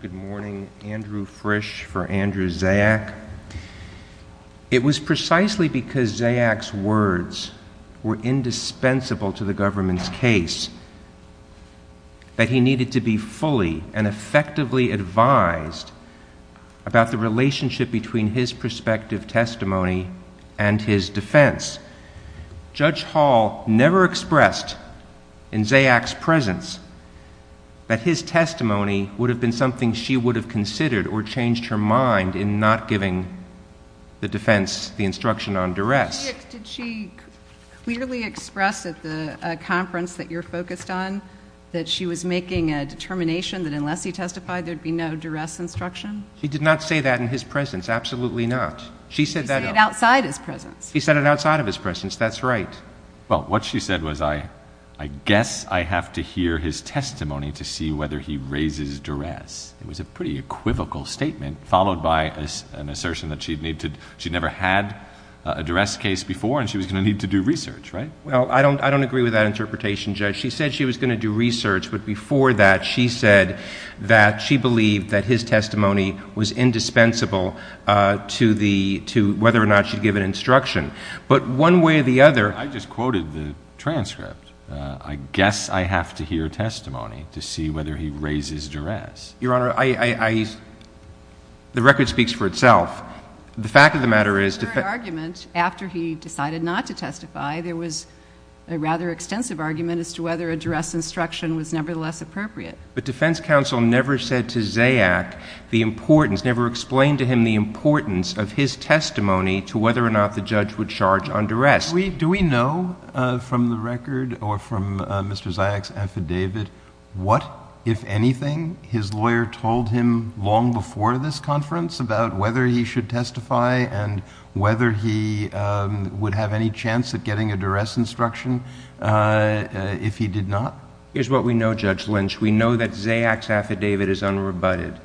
Good morning. Andrew Frisch for Andrew Zayac. It was precisely because Zayac's words were fully and effectively advised about the relationship between his perspective testimony and his defense. Judge Hall never expressed in Zayac's presence that his testimony would have been something she would have considered or changed her mind in not giving the defense the instruction on duress. Did she clearly express at the conference that you're focused on that she was making a determination that unless he testified there'd be no duress instruction? He did not say that in his presence. Absolutely not. She said that outside his presence. He said it outside of his presence. That's right. Well, what she said was, I guess I have to hear his testimony to see whether he raises duress. It was a pretty equivocal statement followed by an assertion that she'd never had a duress case before and she was going to need to do research, right? Well, I don't I don't agree with that interpretation, Judge. She said she was going to do research but before that she said that she believed that his testimony was indispensable to the to whether or not she'd give an instruction. But one way or the other... I just quoted the transcript. I guess I have to hear a testimony to see whether he raises duress. Your Honor, I the record speaks for itself. The fact of the matter is... The argument after he decided not to testify, there was a rather extensive argument as to whether a duress instruction was nevertheless appropriate. But defense counsel never said to Zayac the importance, never explained to him the importance of his testimony to whether or not the judge would charge under us. Do we know from the record or from Mr. Zayac's affidavit what, if anything, his lawyer told him long before this conference about whether he should testify and whether he would have any chance at getting a duress instruction if he did not? Here's what we know, Judge Lynch. We know that Zayac's affidavit is unrebutted.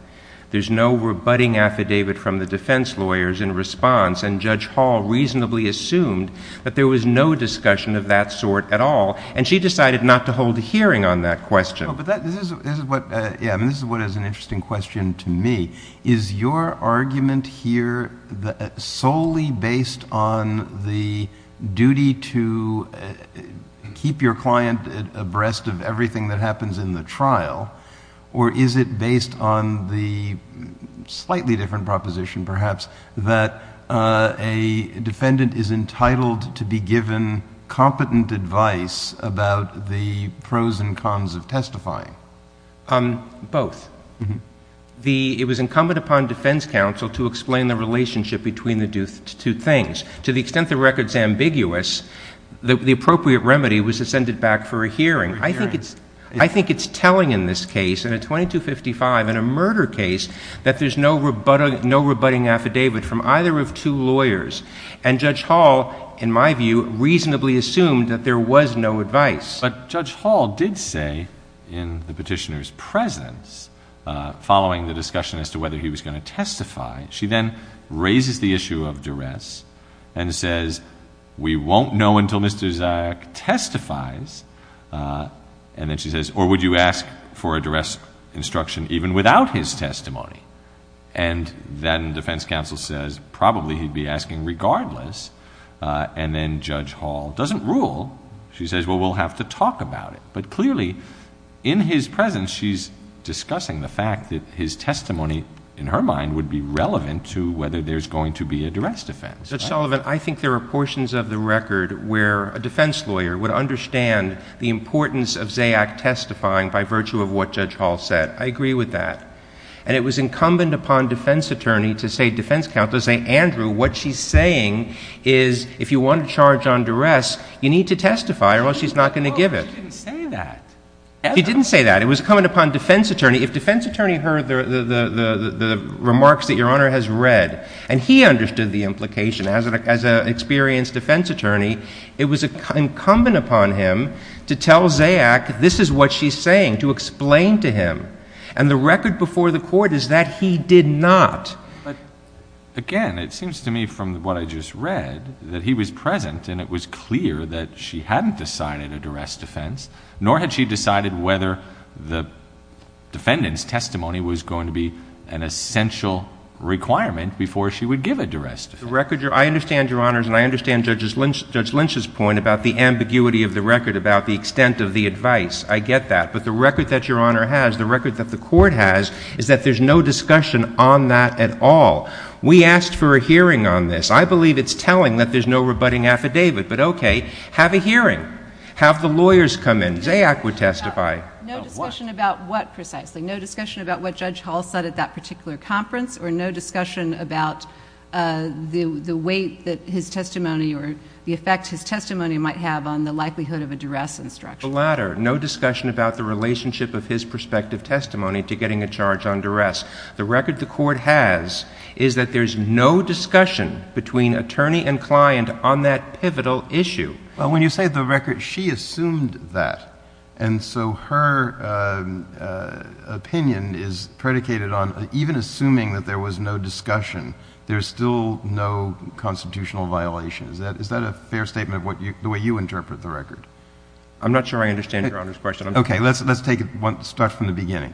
There's no rebutting affidavit from the defense lawyers in response and Judge Hall reasonably assumed that there was no discussion of that sort at all and she decided not to hold a hearing on that question. But this is what is an duty to keep your client abreast of everything that happens in the trial or is it based on the slightly different proposition, perhaps, that a defendant is entitled to be given competent advice about the pros and cons of testifying? Both. It was incumbent upon defense counsel to explain the relationship between the two things. To the extent the record is ambiguous, the appropriate remedy was to send it back for a hearing. I think it's telling in this case, in a 2255, in a murder case, that there's no rebutting affidavit from either of two lawyers and Judge Hall, in my view, reasonably assumed that there was no advice. But Judge Hall did say in the petitioner's presence, following the discussion as to whether he was going to testify, she then raises the issue of duress and says, we won't know until Mr. Zayach testifies. And then she says, or would you ask for a duress instruction even without his testimony? And then defense counsel says, probably he'd be asking regardless. And then Judge Hall doesn't rule. She says, well, we'll have to talk about it. But clearly, in his presence, she's discussing the fact that his testimony is not relevant to whether there's going to be a duress defense. JUDGE LEBEN. Judge Sullivan, I think there are portions of the record where a defense lawyer would understand the importance of Zayach testifying by virtue of what Judge Hall said. I agree with that. And it was incumbent upon defense attorney to say, defense counsel, to say, Andrew, what she's saying is, if you want to charge on duress, you need to testify or else she's not going to give it. JUSTICE SOTOMAYOR. She didn't say that. JUDGE LEBEN. She didn't say that. It was incumbent upon defense attorney, if defense attorney heard the remarks that Your Honor has read, and he understood the implication as an experienced defense attorney, it was incumbent upon him to tell Zayach, this is what she's saying, to explain to him. And the record before the Court is that he did not. JUSTICE ALITO. But, again, it seems to me from what I just read that he was present and it was clear that she hadn't decided a duress defense, nor had she decided whether the defendant's testimony was going to be an essential requirement before she would give a duress defense. JUDGE LEBEN. The record, I understand, Your Honors, and I understand Judge Lynch's point about the ambiguity of the record about the extent of the advice. I get that. But the record that Your Honor has, the record that the Court has, is that there's no discussion on that at all. We asked for a hearing on this. I believe it's telling that there's no rebutting affidavit. But, okay, have a hearing. Have the lawyers come in. Zayach would testify. JUSTICE NANCY LENOX. No discussion about what, precisely? No discussion about what Judge Hall said at that particular conference, or no discussion about the weight that his testimony, or the effect his testimony might have on the likelihood of a duress instruction? JUDGE LEBEN. The latter. No discussion about the relationship of his prospective testimony to getting a charge on duress. The record the Court has is that there's no discussion between attorney and client on that pivotal issue. JUSTICE KENNEDY. Well, when you say the record, she assumed that. And so her opinion is predicated on, even assuming that there was no discussion, there's still no constitutional violation. Is that a fair statement, the way you interpret the record? JUDGE LEBEN. I'm not sure I understand Your Honor's question. JUSTICE KENNEDY. Okay, let's start from the beginning.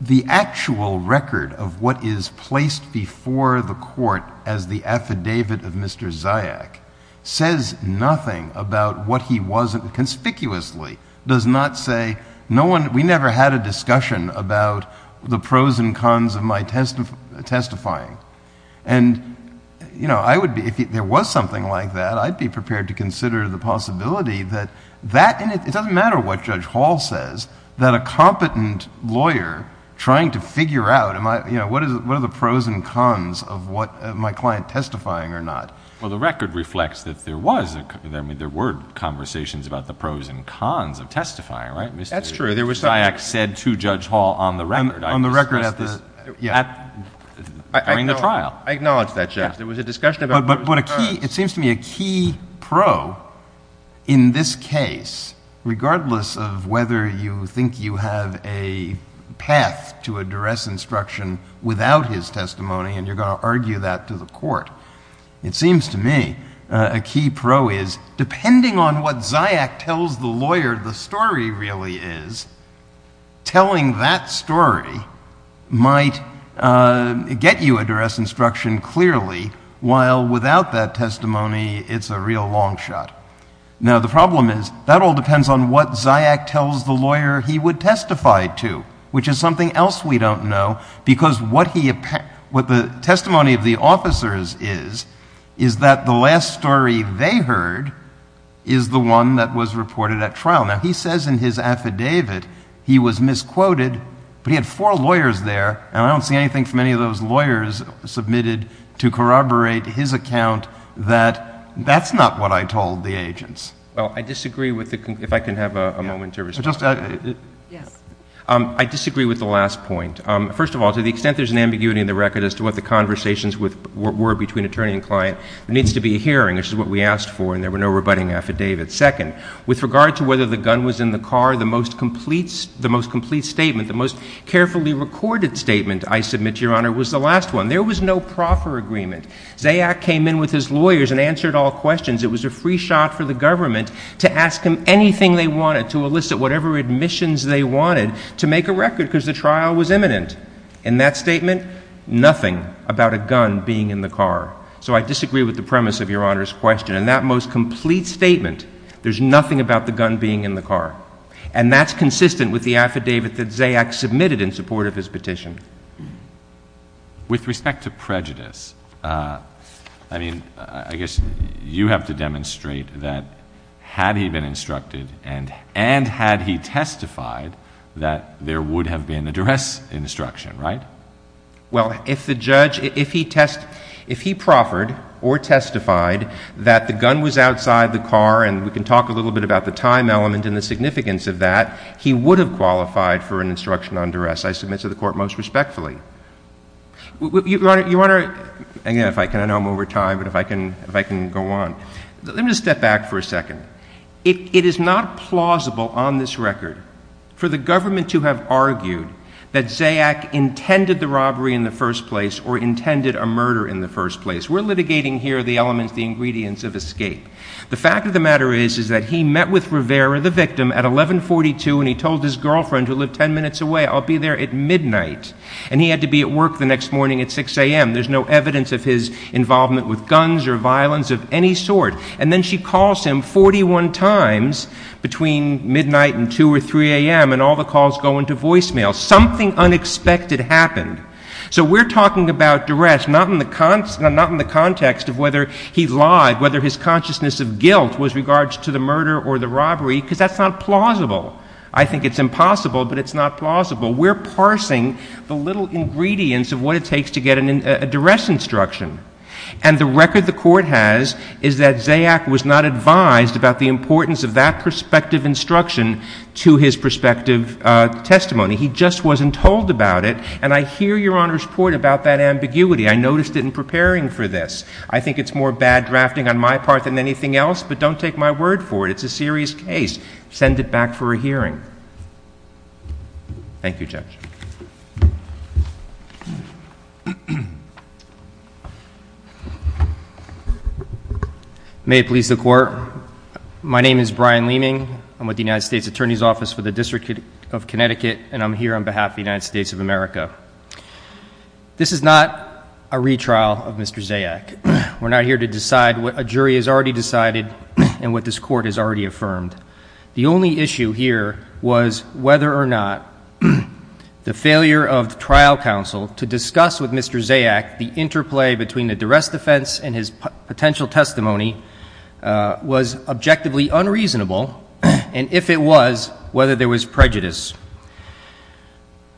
The actual record of what is placed before the Court as the affidavit of Mr. Zayach says nothing about what he wasn't, conspicuously, does not say, no one, we never had a discussion about the pros and cons of my testifying. And, you know, I would be, if there was something like that, I'd be prepared to consider the possibility that that, and it doesn't matter what Judge Hall says, that a competent lawyer trying to figure out, you know, what are the pros and cons of my client testifying or not. JUSTICE BREYER. Well, the record reflects that there was, I mean, there were conversations about the pros and cons of testifying, right? Mr. Zayach said to Judge Hall on the record. JUSTICE KENNEDY. On the record at the... JUSTICE BREYER. During the trial. JUSTICE KENNEDY. I acknowledge that, Judge. There was a discussion about... JUSTICE BREYER. But what a key, it seems to me a key pro in this case, regardless of whether you think you have a path to address instruction without his testimony, and you're going to argue that to the court, it seems to me a key pro is, depending on what Zayach tells the lawyer the story really is, telling that story might get you address instruction clearly, while without that testimony it's a real long shot. Now, the problem is, that all depends on what Zayach tells the lawyer he would testify to, which is something else we don't know, because what the testimony of the officers is, is that the last story they heard is the one that was reported at trial. Now, he says in his affidavit he was misquoted, but he had four lawyers there, and I don't see anything from any of those lawyers submitted to corroborate his account that that's not what I told the agents. MR. RAUMENBERG. Well, I disagree with the, if I can have a moment, Your Honor. JUSTICE SCALIA. Yes. MR. RAUMENBERG. I disagree with the last point. First of all, to the extent there's an ambiguity in the record as to what the conversations were between attorney and client, there needs to be a hearing, which is what we asked for, and there were no rebutting affidavits. Second, with regard to whether the gun was in the car, the most complete statement, the most carefully recorded statement I submit, Your Honor, was the last one. There was no proffer agreement. Zayach came in with his lawyers and answered all questions. It was a free shot for the government to ask him anything they wanted, to elicit whatever admissions they wanted, to make a record because the trial was imminent. In that statement, nothing about a gun being in the car. So I disagree with the premise of Your Honor's question. In that most complete statement, there's nothing about the gun being in the car, and that's consistent with the affidavit that Zayach submitted in support of his petition. With respect to prejudice, I mean, I guess you have to demonstrate that had he been instructed and had he testified that there would have been a duress instruction, right? Well, if the judge, if he proffered or testified that the gun was outside the car, and we can talk a little bit about the time element and the significance of that, he would have qualified for an instruction on duress. I submit to the Court most respectfully. Your Honor, again, if I can, I know I'm over time, but if I can go on. Let me just step back for a second. It is not plausible on this record for the government to have argued that Zayach intended the robbery in the first place or intended a murder in the first place. We're litigating here the elements, the ingredients of escape. The fact of the matter is, is that he met with a woman 10 minutes away. I'll be there at midnight. And he had to be at work the next morning at 6 a.m. There's no evidence of his involvement with guns or violence of any sort. And then she calls him 41 times between midnight and 2 or 3 a.m., and all the calls go into voicemail. Something unexpected happened. So we're talking about duress, not in the context of whether he lied, whether his consciousness of guilt was regards to the murder or the robbery, because that's not plausible. I think it's impossible, but it's not plausible. We're parsing the little ingredients of what it takes to get a duress instruction. And the record the Court has is that Zayach was not advised about the importance of that prospective instruction to his prospective testimony. He just wasn't told about it. And I hear Your Honor's point about that ambiguity. I noticed it in preparing for this. I think it's more bad drafting on my part than anything else, but don't take my word for it. It's a serious case. Send it back for a hearing. Thank you, Judge. May it please the Court. My name is Brian Leeming. I'm with the United States Attorney's Office for the District of Connecticut, and I'm here on behalf of the United States of America. This is not a retrial of Mr. Zayach. We're not here to decide what a jury has already decided and what this Court has already affirmed. The only issue here was whether or not the failure of the trial counsel to discuss with Mr. Zayach the interplay between the duress defense and his potential testimony was objectively unreasonable, and if it was, whether there was prejudice.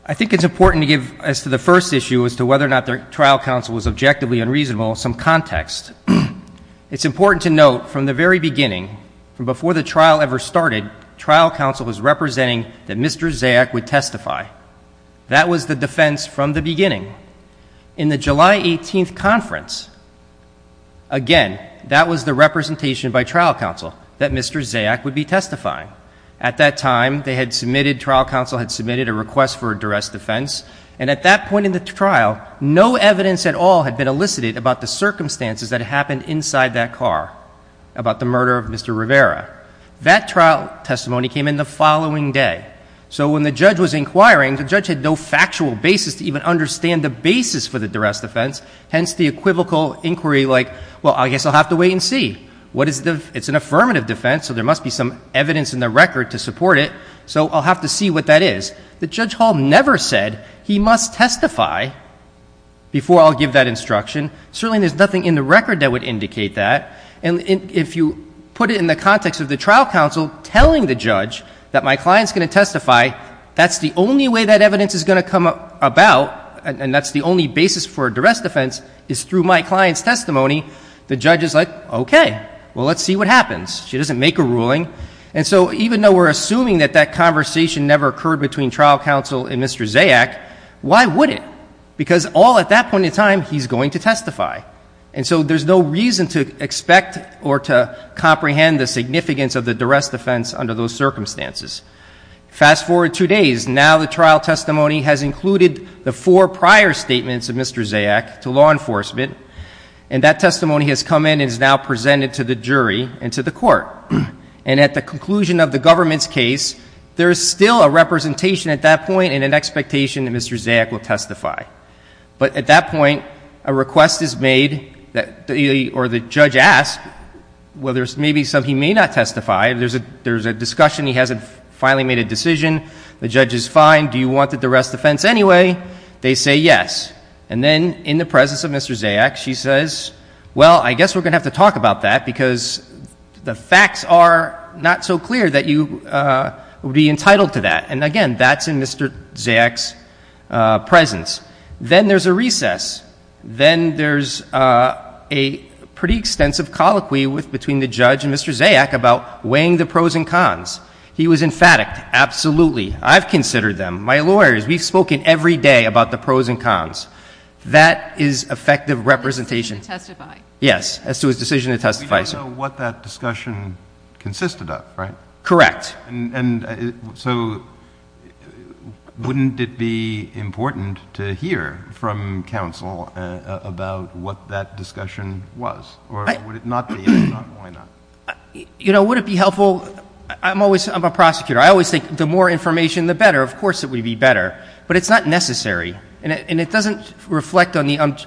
I think it's important to give, as to the first issue, as to whether or not the trial counsel was objectively unreasonable, some context. It's important to note from the very beginning, from before the trial ever started, trial counsel was representing that Mr. Zayach would testify. That was the defense from the beginning. In the July 18th conference, again, that was the representation by trial counsel that Mr. Zayach would be testifying. At that time, they had submitted, trial counsel had submitted a request for a duress defense, and at that point in the trial, no evidence at all had been elicited about the circumstances that happened inside that car, about the murder of Mr. Rivera. That trial testimony came in the following day. So when the judge was inquiring, the judge had no factual basis to even understand the basis for the duress defense, hence the equivocal inquiry like, well, I guess I'll have to wait and see. What is the, it's an affirmative defense, so there must be some evidence in the must testify before I'll give that instruction. Certainly, there's nothing in the record that would indicate that. And if you put it in the context of the trial counsel telling the judge that my client's going to testify, that's the only way that evidence is going to come about, and that's the only basis for a duress defense, is through my client's testimony, the judge is like, okay, well, let's see what happens. She doesn't make a ruling. And so even though we're assuming that that conversation never occurred between trial counsel and Mr. Zayach, why would it? Because all at that point in time, he's going to testify. And so there's no reason to expect or to comprehend the significance of the duress defense under those circumstances. Fast forward two days, now the trial testimony has included the four prior statements of Mr. Zayach to law enforcement, and that testimony has come in and is now presented to the jury and to the court. And at the conclusion of the government's case, there is still a representation at that point and an expectation that Mr. Zayach will testify. But at that point, a request is made, or the judge asks, well, there's maybe something he may not testify, there's a discussion, he hasn't finally made a decision, the judge is fine, do you want the duress defense anyway? They say yes. And then in the presence of Mr. Zayach, she says, well, I guess we're going to have to talk about that because the facts are not so clear that you would be entitled to that. And again, that's in Mr. Zayach's presence. Then there's a recess. Then there's a pretty extensive colloquy between the judge and Mr. Zayach about weighing the pros and cons. He was emphatic, absolutely, I've considered them, my lawyers, we've spoken every day about the pros and cons. That is effective representation. As to his decision to testify. Yes, as to his decision to testify. We don't know what that discussion consisted of, right? Correct. So wouldn't it be important to hear from counsel about what that discussion was? Or would it not be? If not, why not? You know, would it be helpful? I'm a prosecutor. I always think the more information, the better. Of course it would be better. But it's not necessary. And it doesn't reflect on this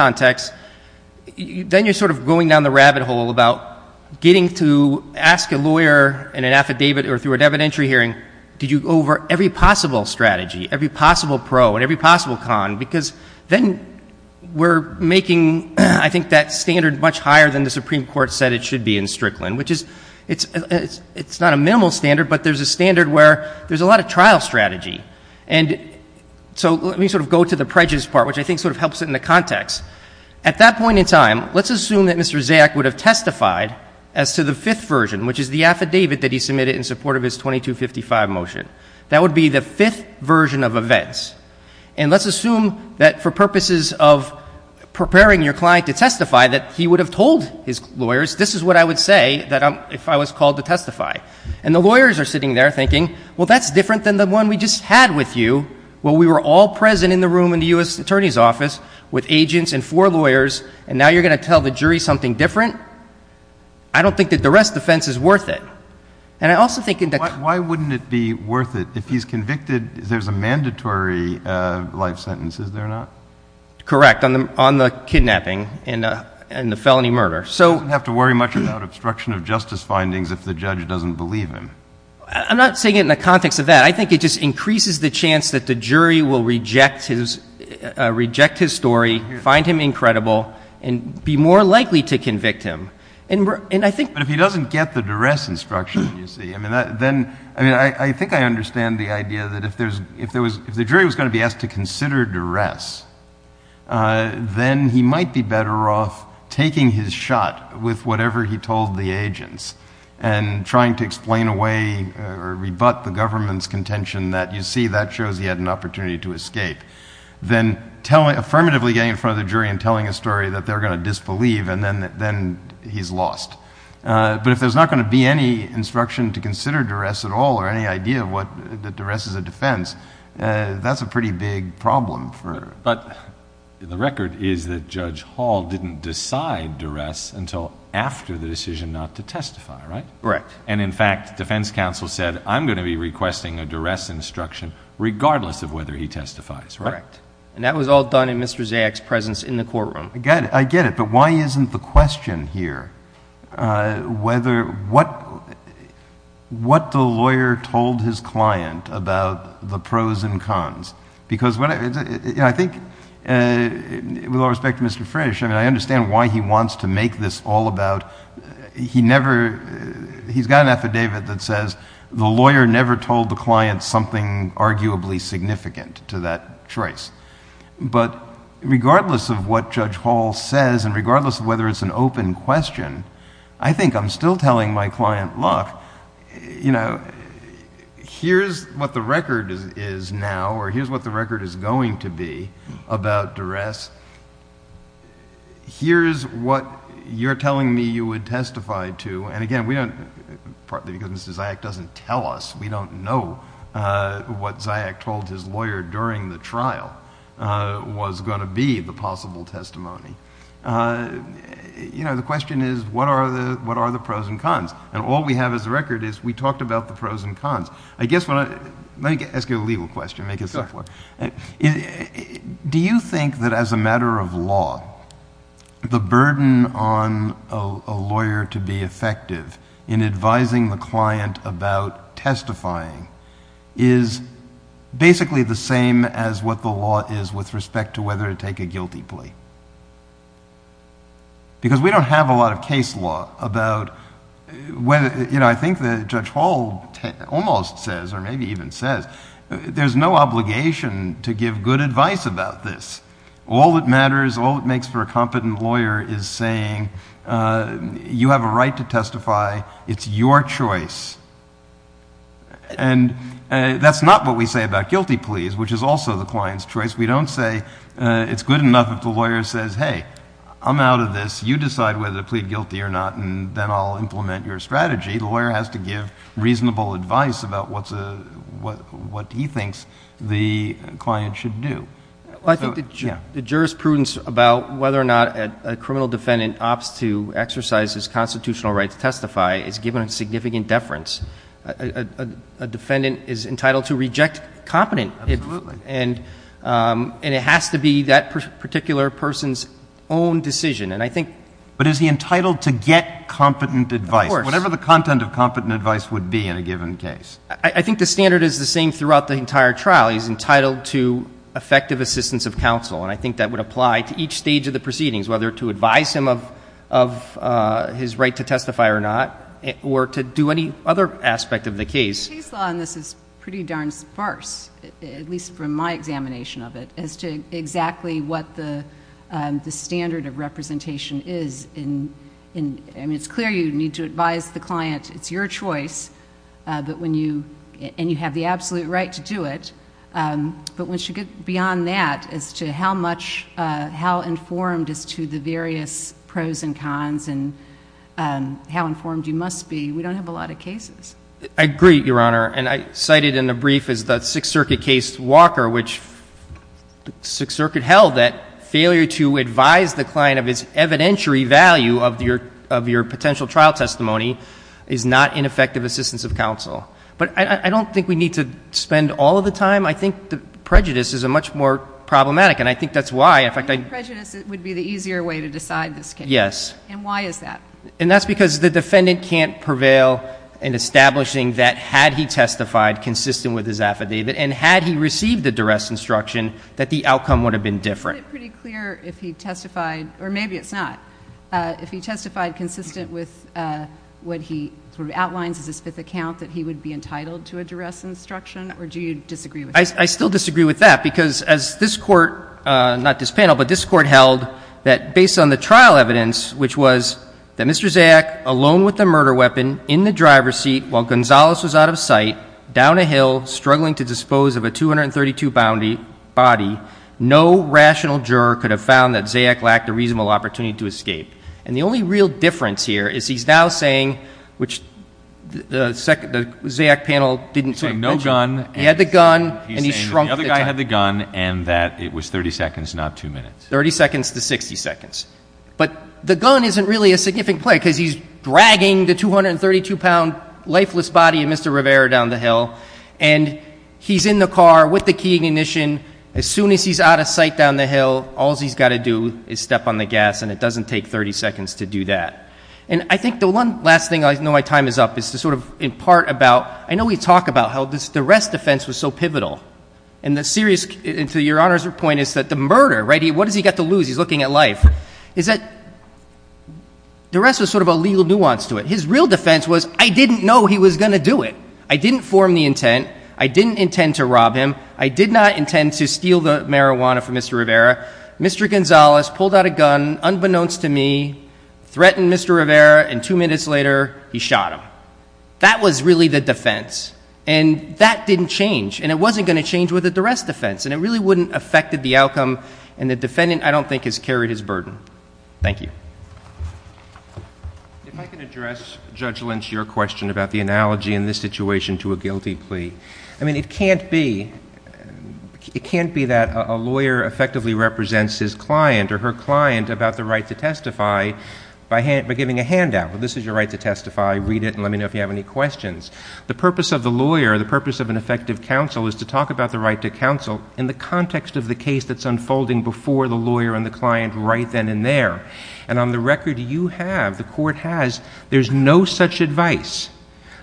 context. Then you're sort of going down the rabbit hole about getting to ask a lawyer in an affidavit or through an evidentiary hearing, did you go over every possible strategy, every possible pro and every possible con? Because then we're making, I think, that standard much higher than the Supreme Court said it should be in Strickland, which is it's not a minimal standard, but there's a standard where there's a lot of trial strategy. And so let me sort of go to the prejudice part, which I think sort of helps it in the context. At that point in time, let's assume that Mr. Zayach would have testified as to the fifth version, which is the affidavit that he submitted in support of his 2255 motion. That would be the fifth version of events. And let's assume that for purposes of preparing your client to testify that he would have told his lawyers, this is what I would say if I was called to testify. And the lawyers are sitting there thinking, well, that's different than the one we just had with you. Well, we were all present in the room in the U.S. Attorney's Office with agents and four lawyers, and now you're going to tell the jury something different? I don't think that the rest of the defense is worth it. And I also think that... Why wouldn't it be worth it? If he's convicted, there's a mandatory life sentence, is there not? Correct, on the kidnapping and the felony murder. So... He doesn't have to worry much about obstruction of justice findings if the judge doesn't believe him. I'm not saying it in the context of that. I think it just increases the chance that the jury will reject his story, find him incredible, and be more likely to convict him. And I think... But if he doesn't get the duress instruction, you see, I mean, I think I understand the idea that if the jury was going to be asked to consider duress, then he might be better off taking his shot with whatever he told the agents and trying to explain away or rebut the government's contention that, you see, that shows he had an opportunity to escape, then affirmatively getting in front of the jury and telling a story that they're going to disbelieve, and then he's lost. But if there's not going to be any instruction to consider duress at all, or any idea that duress is a defense, that's a pretty big problem for... But the record is that Judge Hall didn't decide duress until after the decision not to testify, right? Correct. And in fact, defense counsel said, I'm going to be requesting a duress instruction regardless of whether he testifies, right? Correct. And that was all done in Mr. Zayach's presence in the courtroom. I get it, but why isn't the question here whether what the lawyer told his client about the pros and cons? Because I think, with all respect to Mr. Frisch, I mean, I understand why he wants to make this all about... He's got an affidavit that says the lawyer never told the client something arguably significant to that choice. But regardless of what Judge Hall says, and regardless of whether it's an open question, I think I'm still telling my client, look, here's what the record is now, or here's what the record is going to be about duress. Here's what you're telling me you would testify to. And again, partly because Mr. Zayach doesn't tell us, we don't know what Zayach told his lawyer during the trial was going to be the possible testimony. You know, the question is, what are the pros and cons? And all we have as a record is we talked about the pros and cons. I guess, let me ask you a legal question. Do you think that as a matter of law, the burden on a lawyer to be effective in advising the client about testifying is basically the same as what the law is with respect to whether to take a guilty plea? Because we don't have a lot of case law about... I think that Judge Hall almost says, or maybe even says, there's no obligation to give good advice about this. All that matters, all it makes for a competent lawyer is saying, you have a right to testify, it's your choice. And that's not what we say about guilty pleas, which is also the client's choice. We don't say it's good enough if the lawyer says, hey, I'm out of this, you decide whether to plead guilty or not, and then I'll implement your strategy. The lawyer has to give reasonable advice about what he thinks the client should do. Well, I think the jurisprudence about whether or not a criminal defendant opts to exercise his constitutional right to testify is given a significant deference. A defendant is entitled to reject competent, and it has to be that particular person's own decision. But is he entitled to get competent advice, whatever the content of competent advice would be in a given case? I think the standard is the same throughout the entire trial. He's entitled to effective assistance of counsel, and I think that would apply to each stage of the proceedings, whether to advise him of his right to testify or not, or to do any other aspect of the case. The case law in this is pretty darn sparse, at least from my examination of it, as to exactly what the standard of representation is. It's clear you need to advise the client, it's your choice, and you have the absolute right to do it. But once you get beyond that as to how much, how informed as to the various pros and cons and how informed you must be, we don't have a lot of cases. I agree, Your Honor, and I cited in the brief as the Sixth Circuit case Walker, which Sixth Circuit held that failure to advise the client of his evidentiary value of your potential trial testimony is not ineffective assistance of counsel. But I don't think we have a case like that, and I think it's much more problematic, and I think that's why, in fact, I I think prejudice would be the easier way to decide this case. Yes. And why is that? And that's because the defendant can't prevail in establishing that had he testified consistent with his affidavit, and had he received the duress instruction, that the outcome would have been different. Isn't it pretty clear if he testified, or maybe it's not, if he testified consistent with what he sort of outlines as his fifth account, that he would be entitled to a duress instruction, or do you disagree with that? I still disagree with that, because as this Court, not this panel, but this Court held that, based on the trial evidence, which was that Mr. Zayach, alone with the murder weapon, in the driver's seat while Gonzales was out of sight, down a hill, struggling to dispose of a 232-bounty body, no rational juror could have found that Zayach lacked a reasonable opportunity to escape. And the only real difference here is he's now saying, which the Zayach panel didn't say. No gun. He had the gun, and he shrunk the time. The other guy had the gun, and that it was 30 seconds, not two minutes. 30 seconds to 60 seconds. But the gun isn't really a significant play, because he's dragging the 232-pound lifeless body of Mr. Rivera down the hill, and he's in the car with the key ignition. As soon as he's out of sight down the hill, all he's got to do is step on the gas, and it doesn't take 30 seconds to do that. And I think the one last thing, I know my time is up, is to sort of impart about, I know we talk about how the rest defense was so pivotal. And the serious, and to your Honor's point, is that the murder, right, what has he got to lose? He's looking at life. Is that the rest was sort of a legal nuance to it. His real defense was, I didn't know he was going to do it. I didn't form the intent. I didn't intend to rob him. I did not intend to steal the marijuana from Mr. Rivera. Mr. Gonzalez pulled out a gun, unbeknownst to me, threatened Mr. Rivera, and two minutes later, he shot him. That was really the defense. And that didn't change. And it wasn't going to change with the rest defense. And it really wouldn't have affected the outcome, and the defendant, I don't think, has carried his burden. Thank you. If I could address, Judge Lynch, your question about the analogy in this situation to a guilty plea. I mean, it can't be, it can't be that a lawyer effectively represents his client or her client about the right to testify by giving a handout. Well, this is your right to testify. Read it and let me know if you have any questions. The purpose of the lawyer, the purpose of an effective counsel is to talk about the right to counsel in the context of the case that's unfolding before the lawyer and the client right then and there. And on the record, you have, the court has, there's no such advice.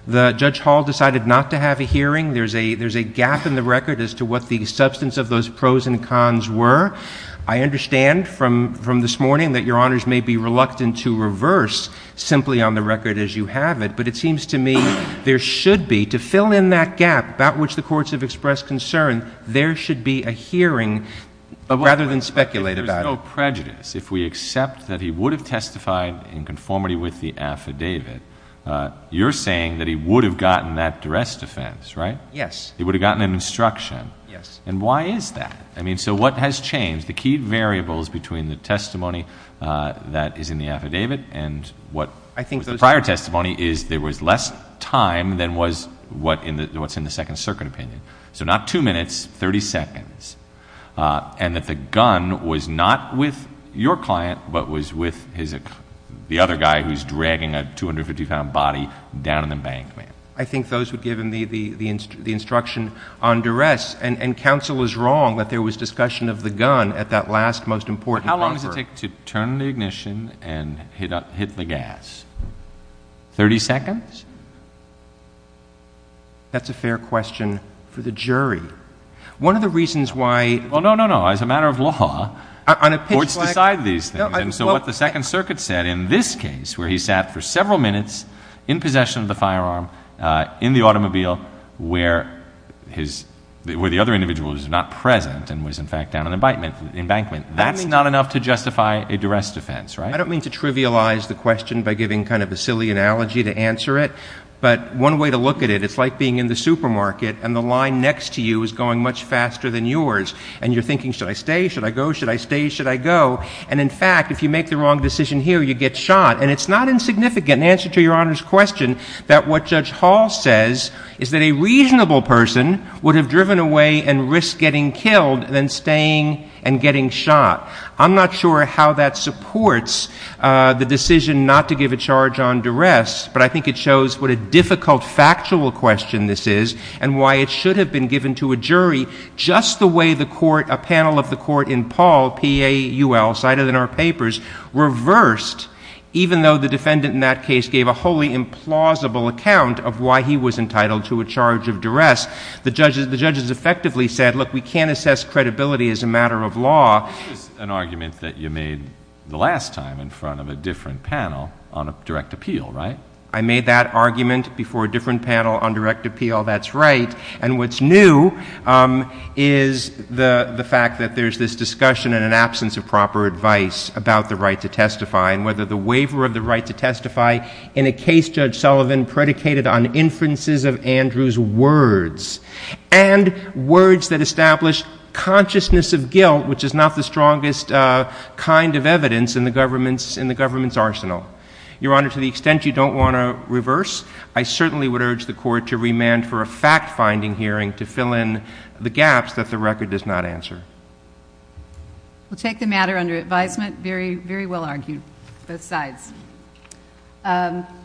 Judge Hall decided not to have a hearing. There's a gap in the record as to what the substance of those pros and cons were. I understand from this morning that your honors may be reluctant to reverse simply on the record as you have it, but it seems to me there should be, to fill in that gap about which the courts have expressed concern, there should be a hearing rather than speculate about it. If there's no prejudice, if we accept that he would have testified in conformity with the affidavit, you're saying that he would have gotten that rest defense, right? Yes. He would have gotten an instruction. And why is that? I mean, so what has changed? The key variables between the testimony that is in the affidavit and what the prior testimony is, there was less time than was what's in the second circuit opinion. So not two minutes, 30 seconds. And that the gun was not with your client, but was with the other guy who's dragging a 250 pound body down in the bank. I think those would give the instruction on duress. And counsel is wrong that there was discussion of the gun at that last most important conference. How long does it take to turn the ignition and hit the gas? 30 seconds? That's a fair question for the jury. One of the reasons why- Well, no, no, no. As a matter of law, courts decide these things. And so what the second circuit said in this case, where he sat for several minutes in possession of the firearm in the automobile where the other individual is not present and was in fact down in the embankment. That's not enough to justify a duress defense, right? I don't mean to trivialize the question by giving kind of a silly analogy to answer it. But one way to look at it, it's like being in the supermarket and the line next to you is going much faster than yours. And you're thinking, should I stay? Should I go? Should I stay? Should I go? And in fact, if you make the wrong decision here, you get shot. And it's not insignificant in answer to Your Honor's question that what Judge Hall says is that a reasonable person would have driven away and risked getting killed than staying and getting shot. I'm not sure how that supports the decision not to give a charge on duress, but I think it shows what a difficult factual question this is and why it should have been given to a jury just the way the court, a panel of the court in Paul, P-A-U-L cited in our papers, reversed even though the case gave a wholly implausible account of why he was entitled to a charge of duress. The judges effectively said, look, we can't assess credibility as a matter of law. This is an argument that you made the last time in front of a different panel on a direct appeal, right? I made that argument before a different panel on direct appeal. That's right. And what's new is the fact that there's this discussion in an absence of proper advice about the right to in a case Judge Sullivan predicated on inferences of Andrew's words and words that establish consciousness of guilt, which is not the strongest kind of evidence in the government's arsenal. Your Honor, to the extent you don't want to reverse, I certainly would urge the court to remand for a fact-finding hearing to fill in the gaps that the record does not answer. We'll take the matter under advisement. Very well argued, both sides. Thank you.